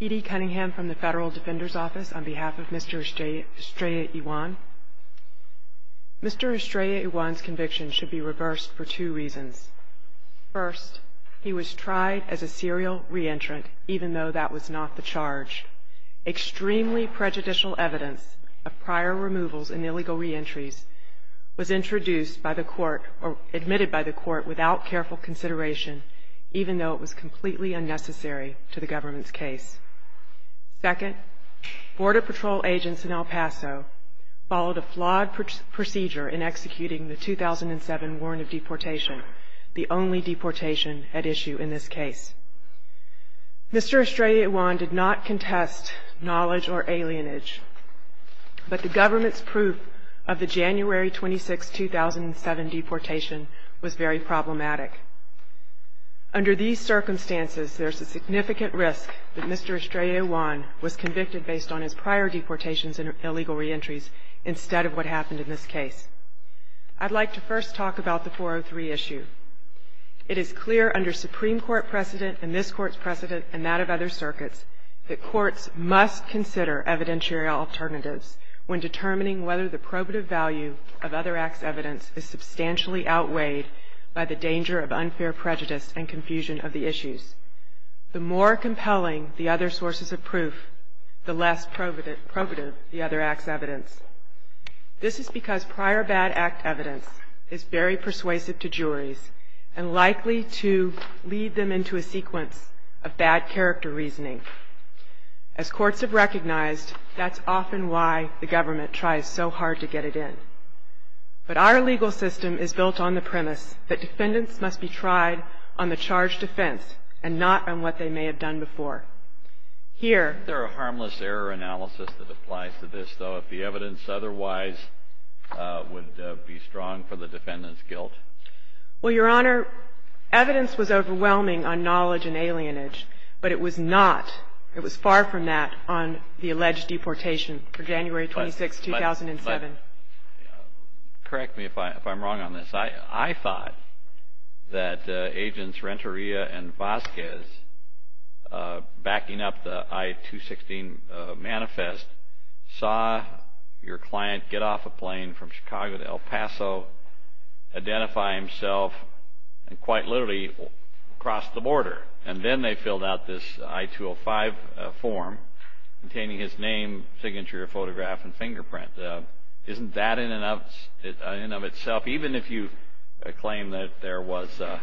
Edie Cunningham from the Federal Defender's Office, on behalf of Mr. Estrella-Yuan. Mr. Estrella-Yuan's conviction should be reversed for two reasons. First, he was tried as a serial re-entrant, even though that was not the charge. Extremely prejudicial evidence of prior removals and illegal re-entries was introduced by the court, or admitted by the court, without careful consideration, even though it was completely unnecessary to the government's case. Second, Border Patrol agents in El Paso followed a flawed procedure in executing the 2007 warrant of deportation, the only deportation at issue in this case. Mr. Estrella-Yuan did not contest knowledge or alienage, but the government's proof of the January 26, 2007 deportation was very problematic. Under these circumstances, there's a significant risk that Mr. Estrella-Yuan was convicted based on his prior deportations and illegal re-entries, instead of what happened in this case. I'd like to first talk about the 403 issue. It is clear under Supreme Court precedent and this Court's precedent and that of other circuits that courts must consider evidentiary alternatives when determining whether the probative value of other acts' evidence is substantially outweighed by the danger of unfair prejudice and confusion of the issues. The more compelling the other sources of proof, the less probative the other act's evidence. This is because prior bad act evidence is very persuasive to juries and likely to lead them into a sequence of bad character reasoning. As courts have recognized, that's often why the government tries so hard to get it in. But our legal system is built on the premise that defendants must be tried on the charge defense and not on what they may have done before. Here... Is there a harmless error analysis that applies to this, though, if the evidence otherwise would be strong for the defendant's guilt? Well, Your Honor, evidence was overwhelming on knowledge and alienage, but it was not, it was far from that, on the alleged deportation for January 26, 2007. Correct me if I'm wrong on this. I thought that agents Renteria and Vasquez, backing up the I-216 manifest, saw your client get off a plane from Chicago to El Paso, identify himself, and quite literally cross the border. And then they filled out this I-205 form containing his name, signature, photograph, and fingerprint. Isn't that in and of itself, even if you claim that there was a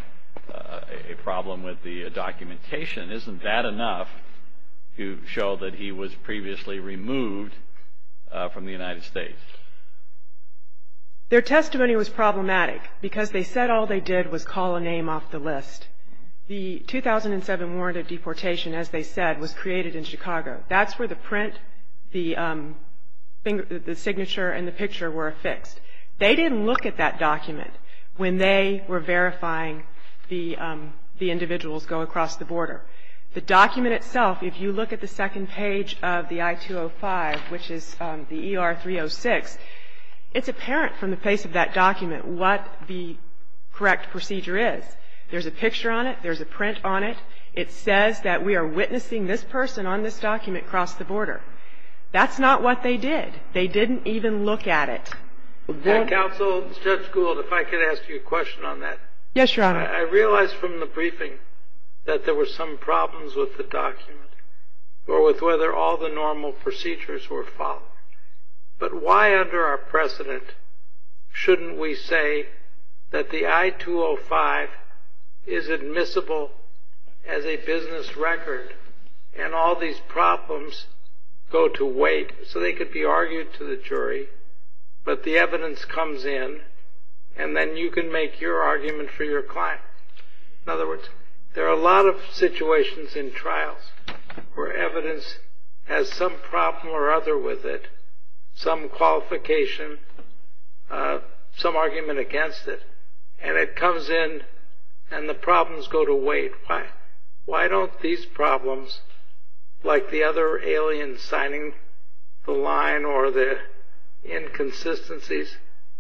problem with the documentation, isn't that enough to show that he was previously removed from the United States? Their testimony was problematic because they said all they did was call a name off the list. The 2007 warrant of deportation, as they said, was created in Chicago. That's where the print, the signature, and the picture were affixed. They didn't look at that document when they were verifying the individuals go across the border. The document itself, if you look at the second page of the I-205, which is the ER-306, it's apparent from the face of that document what the correct procedure is. There's a picture on it. There's a print on it. It says that we are witnessing this person on this document cross the border. That's not what they did. They didn't even look at it. Judge Gould, if I could ask you a question on that. Yes, Your Honor. I realize from the briefing that there were some problems with the document or with whether all the normal procedures were followed. But why under our precedent shouldn't we say that the I-205 is admissible as a business record and all these problems go to wait so they could be argued to the jury, but the evidence comes in and then you can make your argument for your client? In other words, there are a lot of situations in trials where evidence has some problem or other with it, some qualification, some argument against it, and it comes in and the problems go to wait. Why don't these problems, like the other alien signing the line or the inconsistencies,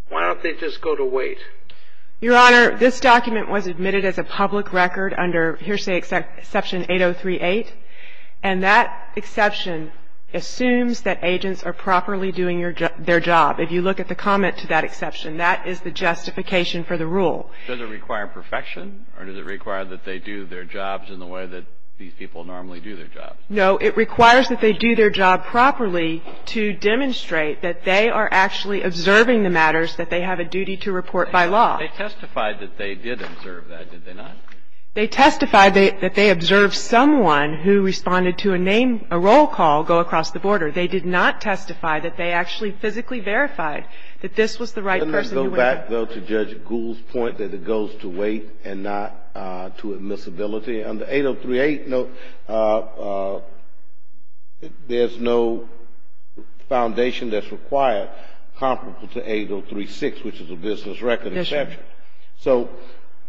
why don't they just go to wait? Your Honor, this document was admitted as a public record under hearsay exception 8038, and that exception assumes that agents are properly doing their job. If you look at the comment to that exception, that is the justification for the rule. Does it require perfection or does it require that they do their jobs in the way that these people normally do their jobs? No, it requires that they do their job properly to demonstrate that they are actually observing the matters that they have a duty to report by law. They testified that they did observe that, did they not? They testified that they observed someone who responded to a name, a roll call, go across the border. They did not testify that they actually physically verified that this was the right person. Let me go back, though, to Judge Gould's point that it goes to wait and not to admissibility. On the 8038 note, there's no foundation that's required comparable to 8036, which is a business record exception. So,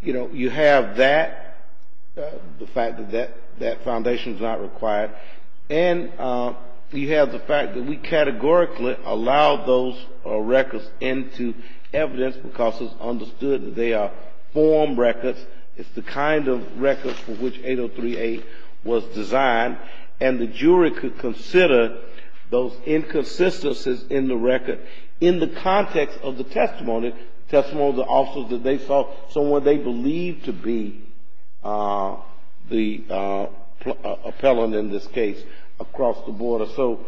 you know, you have that, the fact that that foundation is not required, and you have the fact that we categorically allow those records into evidence because it's understood that they are form records. It's the kind of records for which 8038 was designed. And the jury could consider those inconsistencies in the record in the context of the testimony, testimony of the officers that they saw someone they believed to be the appellant in this case across the border. So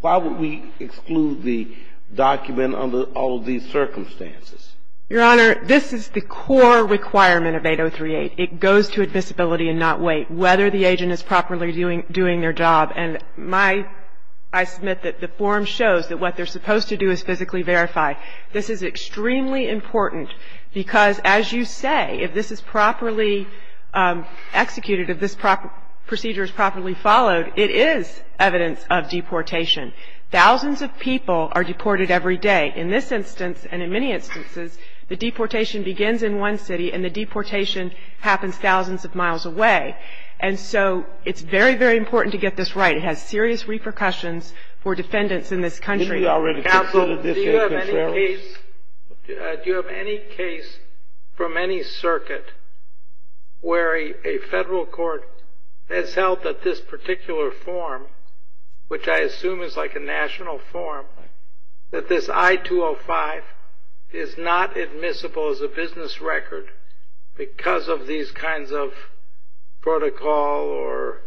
why would we exclude the document under all of these circumstances? Your Honor, this is the core requirement of 8038. It goes to admissibility and not wait, whether the agent is properly doing their job. And my ‑‑ I submit that the form shows that what they're supposed to do is physically verify. This is extremely important because, as you say, if this is properly executed, if this procedure is properly followed, it is evidence of deportation. Thousands of people are deported every day. In this instance and in many instances, the deportation begins in one city and the deportation happens thousands of miles away. And so it's very, very important to get this right. It has serious repercussions for defendants in this country. Counsel, do you have any case from any circuit where a federal court has held that this particular form, which I assume is like a national form, that this I-205 is not admissible as a business record because of these kinds of protocol or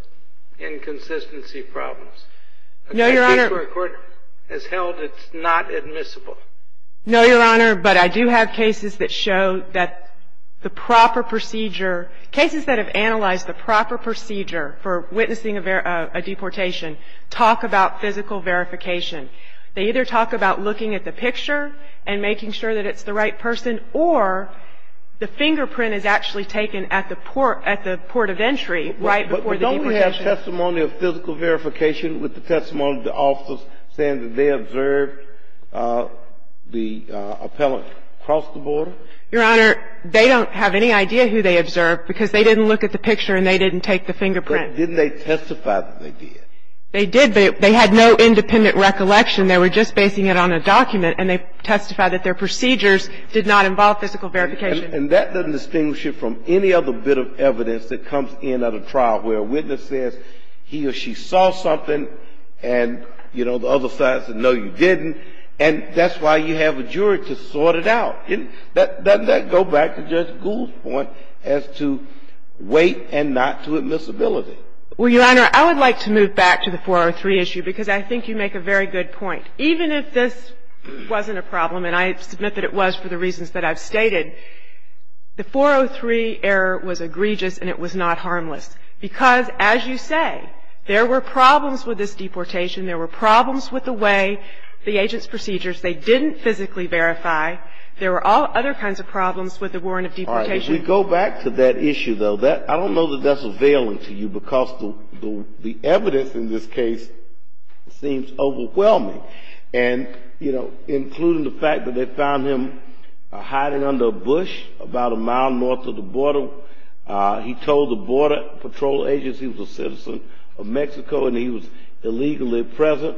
inconsistency problems? No, Your Honor. A court has held it's not admissible. No, Your Honor, but I do have cases that show that the proper procedure, cases that have analyzed the proper procedure for witnessing a deportation, talk about physical verification. They either talk about looking at the picture and making sure that it's the right person or the fingerprint is actually taken at the port of entry right before the deportation. But don't we have testimony of physical verification with the testimony of the officers saying that they observed the appellant cross the border? Your Honor, they don't have any idea who they observed because they didn't look at the picture and they didn't take the fingerprint. But didn't they testify that they did? They did, but they had no independent recollection. They were just basing it on a document and they testified that their procedures did not involve physical verification. And that doesn't distinguish it from any other bit of evidence that comes in at a trial where a witness says he or she saw something and, you know, the other side says no, you didn't. And that's why you have a jury to sort it out. Doesn't that go back to Judge Gould's point as to weight and not to admissibility? Well, Your Honor, I would like to move back to the 403 issue because I think you make a very good point. Even if this wasn't a problem, and I submit that it was for the reasons that I've stated, the 403 error was egregious and it was not harmless because, as you say, there were problems with this deportation. There were problems with the way the agents' procedures, they didn't physically verify. There were all other kinds of problems with the warrant of deportation. All right. If we go back to that issue, though, I don't know that that's available to you because the evidence in this case seems overwhelming. And, you know, including the fact that they found him hiding under a bush about a mile north of the border. He told the Border Patrol Agency he was a citizen of Mexico and he was illegally present.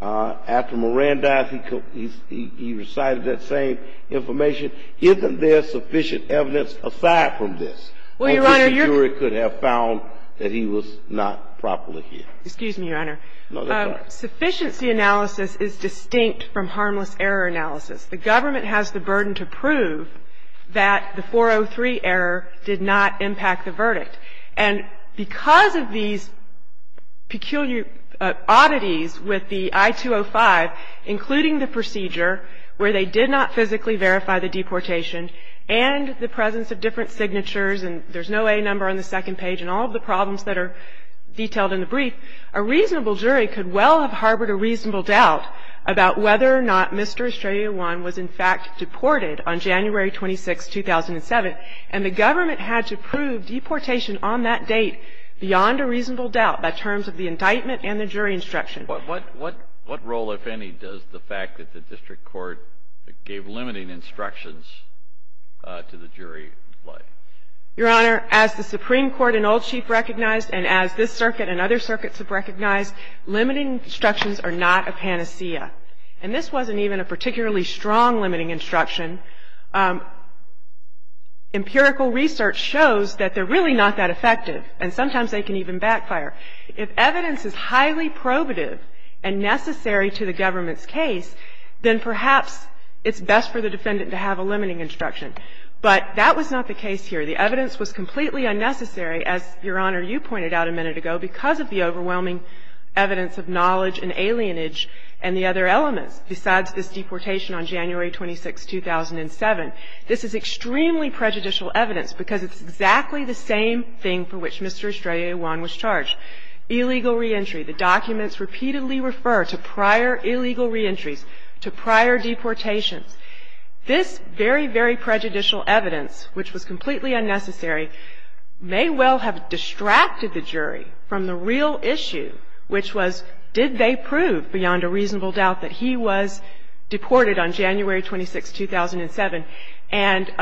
After Moran died, he recited that same information. Isn't there sufficient evidence aside from this? Well, Your Honor, your ---- Until the jury could have found that he was not properly here. Excuse me, Your Honor. No, go ahead. Sufficiency analysis is distinct from harmless error analysis. The government has the burden to prove that the 403 error did not impact the verdict. And because of these peculiar oddities with the I-205, including the procedure where they did not physically verify the deportation and the presence of different signatures and there's no A number on the second page and all of the problems that are detailed in the brief, a reasonable jury could well have harbored a reasonable doubt about whether or not Mr. Estrella I was in fact deported on January 26, 2007. And the government had to prove deportation on that date beyond a reasonable doubt by terms of the indictment and the jury instruction. What role, if any, does the fact that the district court gave limiting instructions to the jury play? Your Honor, as the Supreme Court and Old Chief recognized and as this circuit and other circuits have recognized, limiting instructions are not a panacea. And this wasn't even a particularly strong limiting instruction. Empirical research shows that they're really not that effective. And sometimes they can even backfire. If evidence is highly probative and necessary to the government's case, then perhaps it's best for the defendant to have a limiting instruction. But that was not the case here. The evidence was completely unnecessary, as, Your Honor, you pointed out a minute ago, because of the overwhelming evidence of knowledge and alienage and the other elements besides this deportation on January 26, 2007. This is extremely prejudicial evidence because it's exactly the same thing for which Mr. Estrella I was charged, illegal reentry. The documents repeatedly refer to prior illegal reentries, to prior deportations. This very, very prejudicial evidence, which was completely unnecessary, may well have distracted the jury from the real issue, which was, did they prove beyond a reasonable doubt that he was deported on January 26, 2007? And,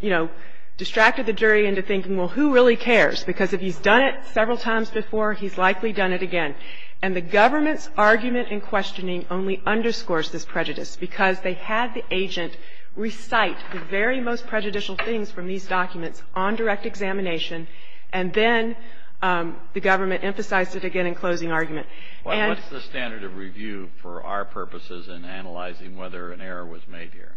you know, distracted the jury into thinking, well, who really cares? Because if he's done it several times before, he's likely done it again. And the government's argument in questioning only underscores this prejudice because they had the agent recite the very most prejudicial things from these documents on direct examination, and then the government emphasized it again in closing argument. And the standard of review for our purposes in analyzing whether an error was made here.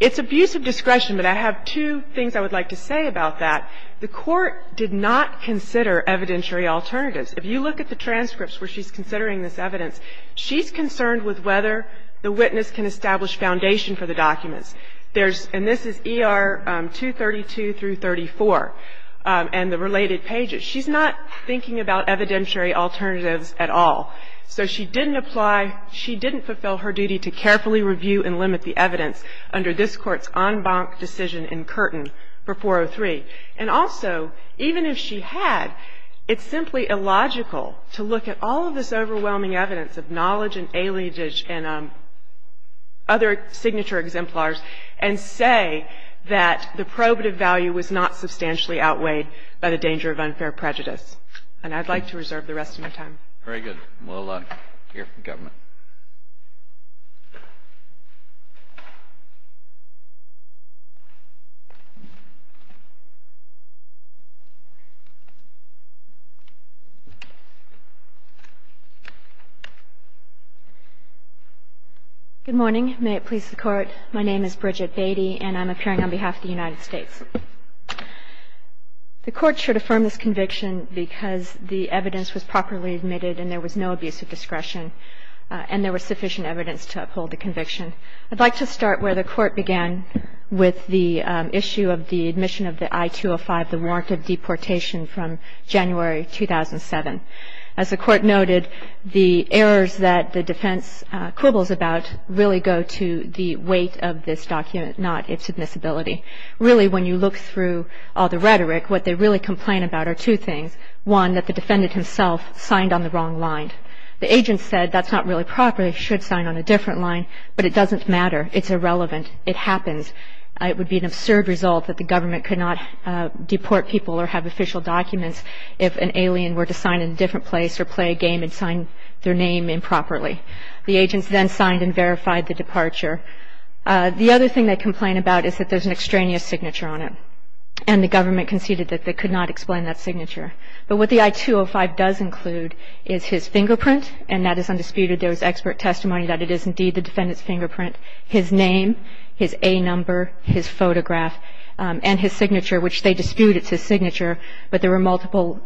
It's abuse of discretion, but I have two things I would like to say about that. The Court did not consider evidentiary alternatives. If you look at the transcripts where she's considering this evidence, she's concerned with whether the witness can establish foundation for the documents. And this is ER 232 through 34, and the related pages. She's not thinking about evidentiary alternatives at all. So she didn't apply, she didn't fulfill her duty to carefully review and limit the evidence under this Court's en banc decision in Curtin for 403. And also, even if she had, it's simply illogical to look at all of this overwhelming evidence of knowledge and other signature exemplars and say that the probative value was not substantially outweighed by the danger of unfair prejudice. And I'd like to reserve the rest of my time. Very good. We'll hear from the government. Good morning. May it please the Court. My name is Bridget Beatty, and I'm appearing on behalf of the United States. The Court should affirm this conviction because the evidence was properly admitted and there was no abuse of discretion, and there was sufficient evidence to uphold the conviction. I'd like to start where the Court began with the issue of the admission of the I-205, the warrant of deportation from January 2007. As the Court noted, the errors that the defense quibbles about really go to the weight of this document, not its admissibility. Really, when you look through all the rhetoric, what they really complain about are two things. One, that the defendant himself signed on the wrong line. The agent said that's not really proper. He should sign on a different line, but it doesn't matter. It's irrelevant. It happens. It would be an absurd result that the government could not deport people or have official documents if an alien were to sign in a different place or play a game and sign their name improperly. The agents then signed and verified the departure. The other thing they complain about is that there's an extraneous signature on it, and the government conceded that they could not explain that signature. But what the I-205 does include is his fingerprint, and that is undisputed. There was expert testimony that it is indeed the defendant's fingerprint. His name, his A number, his photograph, and his signature, which they dispute it's his signature. But there were multiple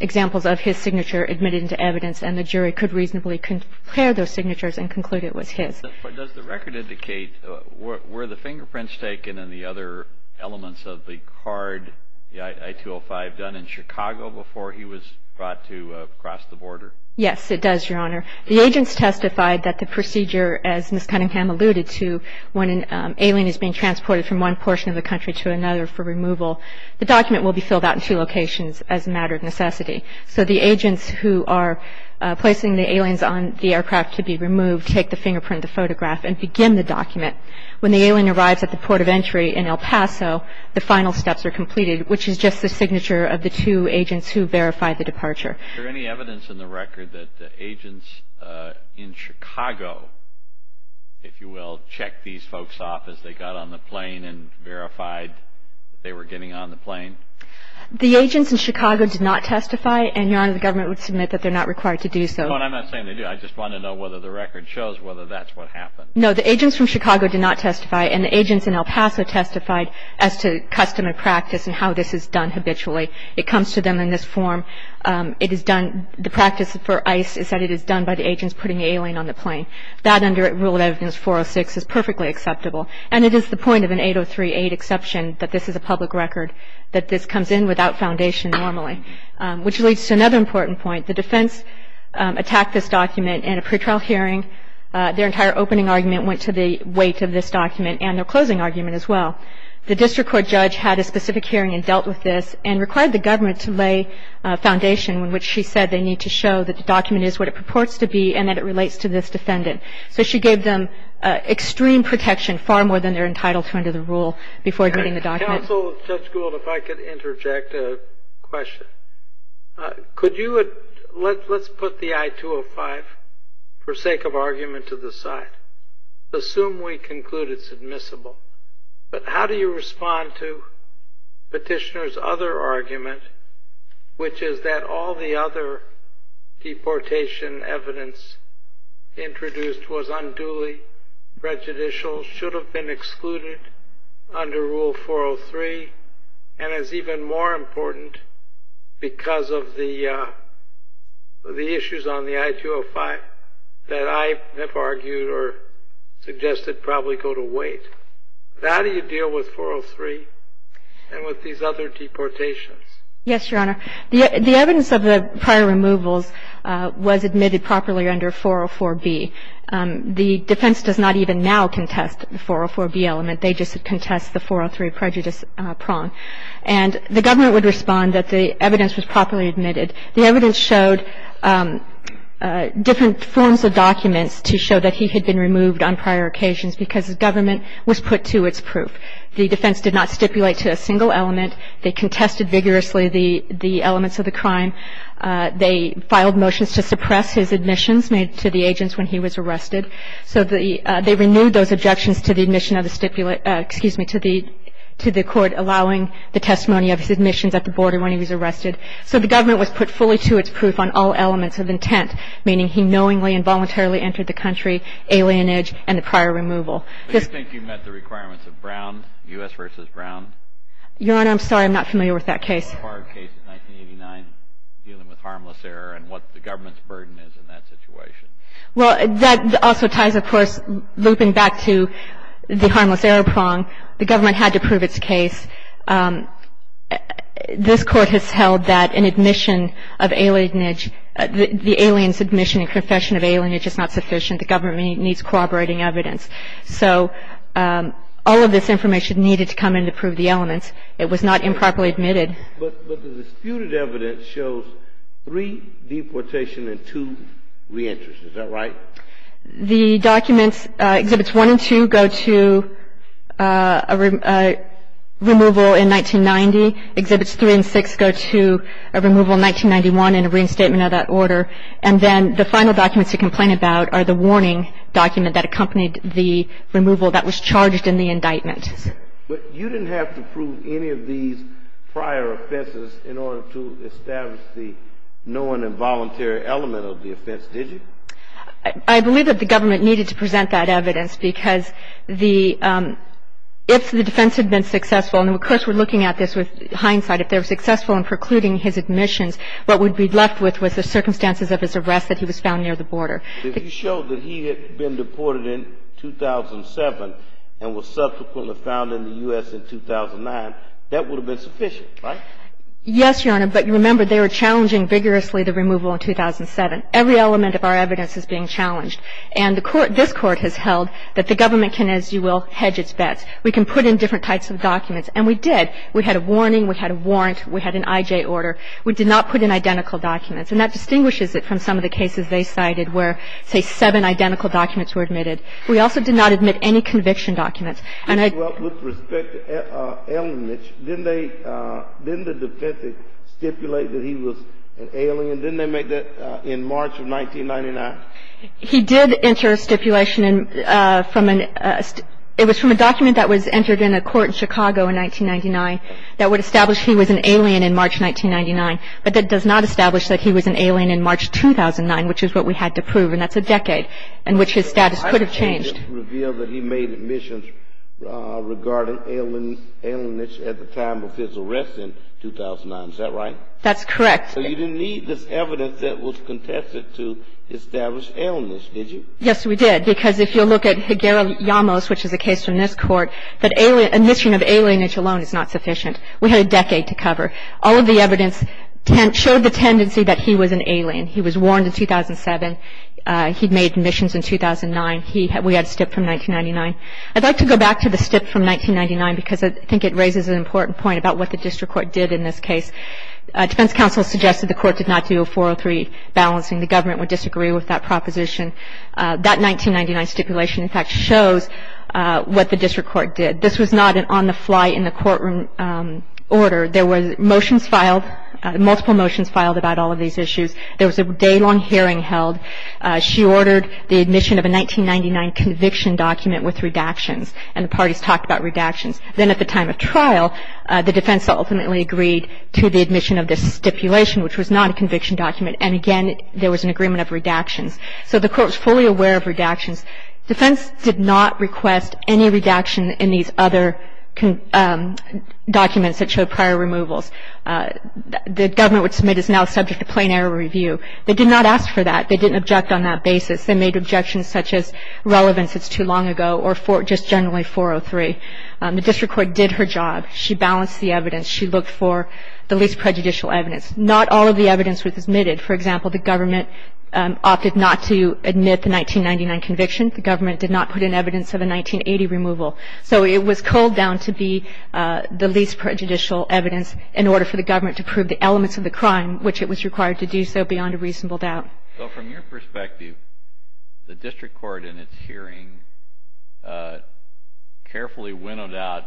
examples of his signature admitted into evidence, and the jury could reasonably compare those signatures and conclude it was his. But does the record indicate, were the fingerprints taken and the other elements of the card, the I-205, done in Chicago before he was brought to cross the border? Yes, it does, Your Honor. The agents testified that the procedure, as Ms. Cunningham alluded to, when an alien is being transported from one portion of the country to another for removal, the document will be filled out in two locations as a matter of necessity. So the agents who are placing the aliens on the aircraft to be removed take the fingerprint, the photograph, and begin the document. When the alien arrives at the port of entry in El Paso, the final steps are completed, which is just the signature of the two agents who verified the departure. Is there any evidence in the record that the agents in Chicago, if you will, checked these folks off as they got on the plane and verified they were getting on the plane? The agents in Chicago did not testify, and, Your Honor, the government would submit that they're not required to do so. No, and I'm not saying they do. I just want to know whether the record shows whether that's what happened. No, the agents from Chicago did not testify, and the agents in El Paso testified as to custom and practice and how this is done habitually. It comes to them in this form. It is done, the practice for ICE is that it is done by the agents putting the alien on the plane. That under Rule of Evidence 406 is perfectly acceptable, and it is the point of an 803-8 exception that this is a public record, that this comes in without foundation normally, which leads to another important point. The defense attacked this document in a pretrial hearing. Their entire opening argument went to the weight of this document and their closing argument as well. The district court judge had a specific hearing and dealt with this and required the government to lay a foundation in which she said they need to show that the document is what it purports to be and that it relates to this defendant. So she gave them extreme protection, far more than they're entitled to under the rule, before admitting the document. Counsel, Judge Gould, if I could interject a question. Could you let's put the I-205 for sake of argument to the side. Assume we conclude it's admissible. But how do you respond to petitioner's other argument, which is that all the other deportation evidence introduced was unduly prejudicial, should have been excluded under Rule 403, and is even more important because of the issues on the I-205 that I have argued or suggested probably go to weight. How do you deal with 403 and with these other deportations? Yes, Your Honor. The evidence of the prior removals was admitted properly under 404B. The defense does not even now contest the 404B element. They just contest the 403 prejudice prong. And the government would respond that the evidence was properly admitted. The evidence showed different forms of documents to show that he had been removed on prior occasions because the government was put to its proof. The defense did not stipulate to a single element. They contested vigorously the elements of the crime. They filed motions to suppress his admissions to the agents when he was arrested. So they renewed those objections to the admission of the stipulate, excuse me, to the court allowing the testimony of his admissions at the border when he was arrested. So the government was put fully to its proof on all elements of intent, meaning he knowingly and voluntarily entered the country, alienage, and the prior removal. Do you think you met the requirements of Brown, U.S. v. Brown? Your Honor, I'm sorry. I'm not familiar with that case. The Harvard case in 1989 dealing with harmless error and what the government's burden is in that situation. Well, that also ties, of course, looping back to the harmless error prong. The government had to prove its case. This Court has held that an admission of alienage, the alien's admission and confession of alienage is not sufficient. The government needs corroborating evidence. So all of this information needed to come in to prove the elements. It was not improperly admitted. But the disputed evidence shows three deportations and two reentries. Is that right? The documents, Exhibits 1 and 2, go to a removal in 1990. Exhibits 3 and 6 go to a removal in 1991 and a reinstatement of that order. And then the final documents to complain about are the warning document that accompanied the removal that was charged in the indictment. But you didn't have to prove any of these prior offenses in order to establish the known involuntary element of the offense, did you? I believe that the government needed to present that evidence because if the defense had been successful, and, of course, we're looking at this with hindsight, if they were successful in precluding his admissions, what would be left with was the circumstances of his arrest that he was found near the border. If you showed that he had been deported in 2007 and was subsequently found in the U.S. in 2009, that would have been sufficient, right? Yes, Your Honor. But you remember they were challenging vigorously the removal in 2007. Every element of our evidence is being challenged. And the court, this Court has held that the government can, as you will, hedge its bets. We can put in different types of documents. And we did. We had a warning. We had a warrant. We had an I.J. order. We did not put in identical documents. And that distinguishes it from some of the cases they cited where, say, seven identical documents were admitted. We also did not admit any conviction documents. And I ---- Well, with respect to Elmich, didn't they, didn't the defense stipulate that he was an alien? Didn't they make that in March of 1999? He did enter a stipulation from an ---- it was from a document that was entered in a court in Chicago in 1999 that would establish he was an alien in March 1999. But that does not establish that he was an alien in March 2009, which is what we had to prove. And that's a decade in which his status could have changed. So the I.J. just revealed that he made admissions regarding alien ---- Elmich at the time of his arrest in 2009. Is that right? That's correct. So you didn't need this evidence that was contested to establish Elmich, did you? Yes, we did. Because if you look at Higuera-Llamos, which is a case from this Court, that alien ---- admission of alienage alone is not sufficient. We had a decade to cover. All of the evidence showed the tendency that he was an alien. He was warned in 2007. He made admissions in 2009. We had a stip from 1999. I'd like to go back to the stip from 1999 because I think it raises an important point about what the district court did in this case. Defense counsel suggested the court did not do a 403 balancing. The government would disagree with that proposition. That 1999 stipulation, in fact, shows what the district court did. This was not an on-the-fly, in-the-courtroom order. There were motions filed, multiple motions filed about all of these issues. There was a day-long hearing held. She ordered the admission of a 1999 conviction document with redactions, and the parties talked about redactions. Then at the time of trial, the defense ultimately agreed to the admission of this stipulation, which was not a conviction document. And again, there was an agreement of redactions. So the court was fully aware of redactions. Defense did not request any redaction in these other documents that showed prior removals. The government would submit as now subject to plain error review. They did not ask for that. They didn't object on that basis. They made objections such as relevance is too long ago or just generally 403. The district court did her job. She balanced the evidence. She looked for the least prejudicial evidence. Not all of the evidence was admitted. For example, the government opted not to admit the 1999 conviction. The government did not put in evidence of a 1980 removal. So it was curled down to be the least prejudicial evidence in order for the government to prove the elements of the crime, which it was required to do so beyond a reasonable doubt. So from your perspective, the district court in its hearing carefully winnowed out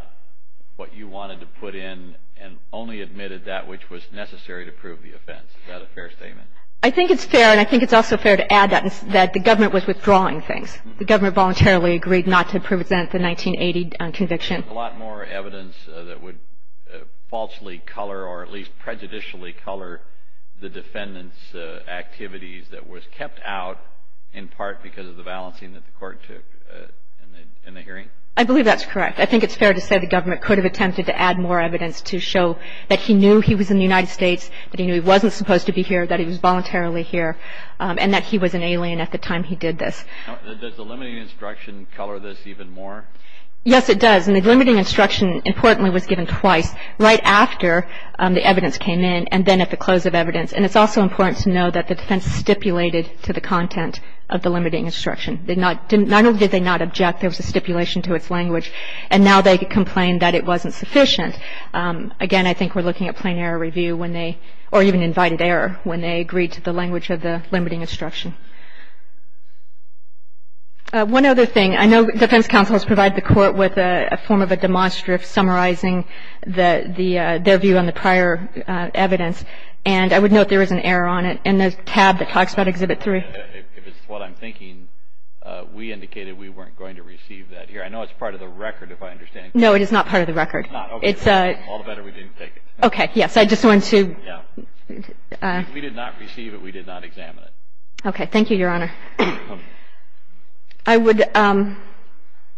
what you wanted to put in and only admitted that which was necessary to prove the offense. Is that a fair statement? I think it's fair. And I think it's also fair to add that the government was withdrawing things. The government voluntarily agreed not to present the 1980 conviction. There's a lot more evidence that would falsely color or at least prejudicially color the defendant's activities that was kept out in part because of the balancing that the court took in the hearing. I believe that's correct. I think it's fair to say the government could have attempted to add more evidence to show that he knew he was in the United States, that he knew he wasn't supposed to be here, that he was voluntarily here, and that he was an alien at the time he did this. Does the limiting instruction color this even more? Yes, it does. And the limiting instruction, importantly, was given twice, right after the evidence came in and then at the close of evidence. And it's also important to know that the defense stipulated to the content of the limiting instruction. Not only did they not object, there was a stipulation to its language. And now they complain that it wasn't sufficient. Again, I think we're looking at plain error review when they or even invited error when they agreed to the language of the limiting instruction. One other thing. I know defense counsels provide the court with a form of a demonstrative summarizing their view on the prior evidence. And I would note there is an error on it in the tab that talks about Exhibit 3. If it's what I'm thinking, we indicated we weren't going to receive that here. I know it's part of the record, if I understand correctly. No, it is not part of the record. Okay. All the better we didn't take it. Okay. Yes, I just wanted to. Yeah. We did not receive it. We did not examine it. Okay. I would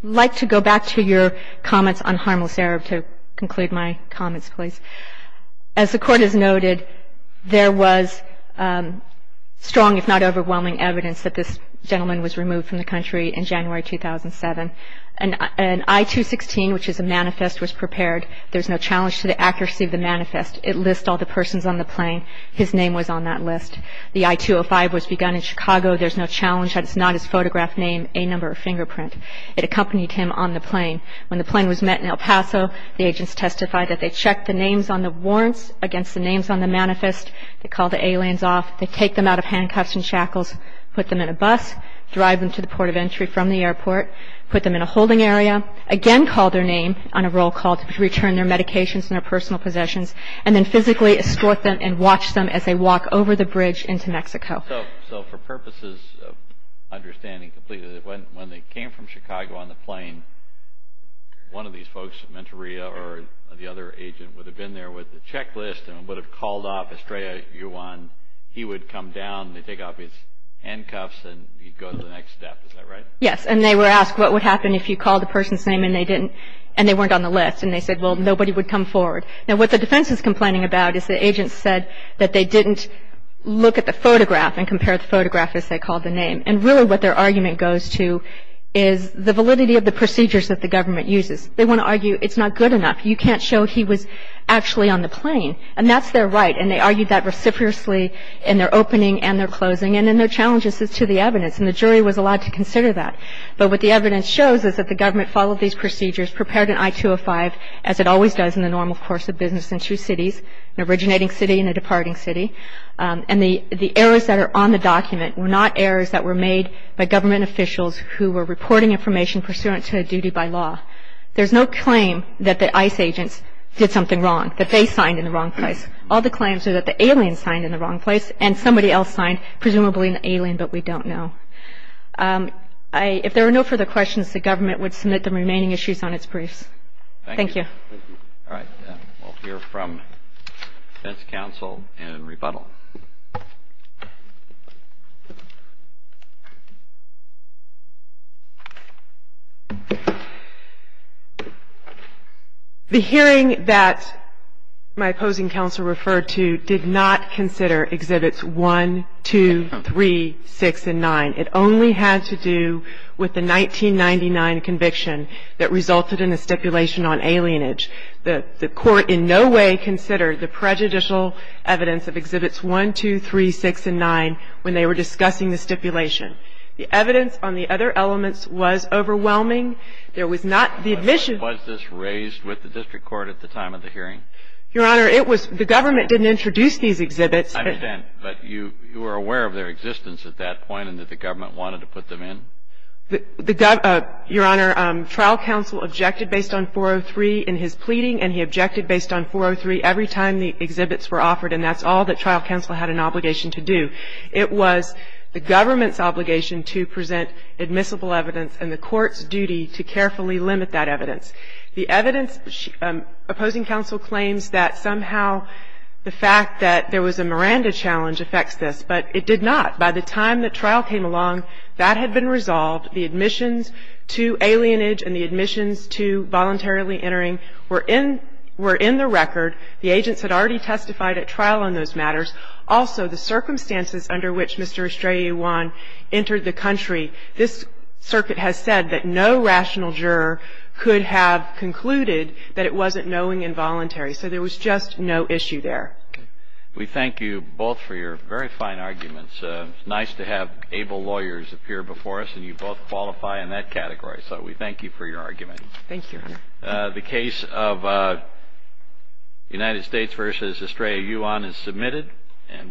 like to go back to your comments on harmless error to conclude my comments, please. As the Court has noted, there was strong, if not overwhelming, evidence that this gentleman was removed from the country in January 2007. An I-216, which is a manifest, was prepared. There's no challenge to the accuracy of the manifest. It lists all the persons on the plane. His name was on that list. The I-205 was begun in Chicago. There's no challenge that it's not his photograph name, a number, or fingerprint. It accompanied him on the plane. When the plane was met in El Paso, the agents testified that they checked the names on the warrants against the names on the manifest. They called the aliens off. They take them out of handcuffs and shackles, put them in a bus, drive them to the port of entry from the airport, put them in a holding area, again called their name on a roll call to return their medications and their personal possessions, and then physically escort them and watch them as they walk over the bridge into Mexico. So for purposes of understanding completely, when they came from Chicago on the plane, one of these folks, Mentoria or the other agent, would have been there with the checklist and would have called off Estrella Yuan. He would come down. They'd take off his handcuffs, and he'd go to the next step. Is that right? Yes, and they were asked what would happen if you called the person's name, and they didn't, and they weren't on the list, and they said, well, nobody would come forward. Now, what the defense is complaining about is the agent said that they didn't look at the photograph and compare the photograph as they called the name, and really what their argument goes to is the validity of the procedures that the government uses. They want to argue it's not good enough. You can't show he was actually on the plane, and that's their right, and they argued that reciprocally in their opening and their closing, and then their challenge is to the evidence, and the jury was allowed to consider that. But what the evidence shows is that the government followed these procedures, prepared an I-205 as it always does in the normal course of business in two cities, an originating city and a departing city, and the errors that are on the document were not errors that were made by government officials who were reporting information pursuant to a duty by law. There's no claim that the ICE agents did something wrong, that they signed in the wrong place. All the claims are that the alien signed in the wrong place, and somebody else signed, presumably an alien, but we don't know. If there are no further questions, the government would submit the remaining issues on its briefs. Thank you. All right. We'll hear from defense counsel in rebuttal. The hearing that my opposing counsel referred to did not consider Exhibits 1, 2, 3, 6, and 9. It only had to do with the 1999 conviction that resulted in a stipulation on alienage. The court in no way considered the prejudicial evidence of Exhibits 1, 2, 3, 6, and 9 when they were discussing the stipulation. The evidence on the other elements was overwhelming. There was not the admission. Was this raised with the district court at the time of the hearing? Your Honor, it was. The government didn't introduce these exhibits. I understand. But you were aware of their existence at that point and that the government wanted to put them in? Your Honor, trial counsel objected based on 403 in his pleading, and he objected based on 403 every time the exhibits were offered, and that's all that trial counsel had an obligation to do. It was the government's obligation to present admissible evidence and the court's duty to carefully limit that evidence. The evidence opposing counsel claims that somehow the fact that there was a Miranda challenge affects this, but it did not. By the time that trial came along, that had been resolved. The admissions to alienage and the admissions to voluntarily entering were in the record. The agents had already testified at trial on those matters. Also, the circumstances under which Mr. Estrella Iwan entered the country, this circuit has said that no rational juror could have concluded that it wasn't knowing involuntary. So there was just no issue there. We thank you both for your very fine arguments. It's nice to have able lawyers appear before us, and you both qualify in that category. So we thank you for your argument. Thank you, Your Honor. The case of United States v. Estrella Iwan is submitted.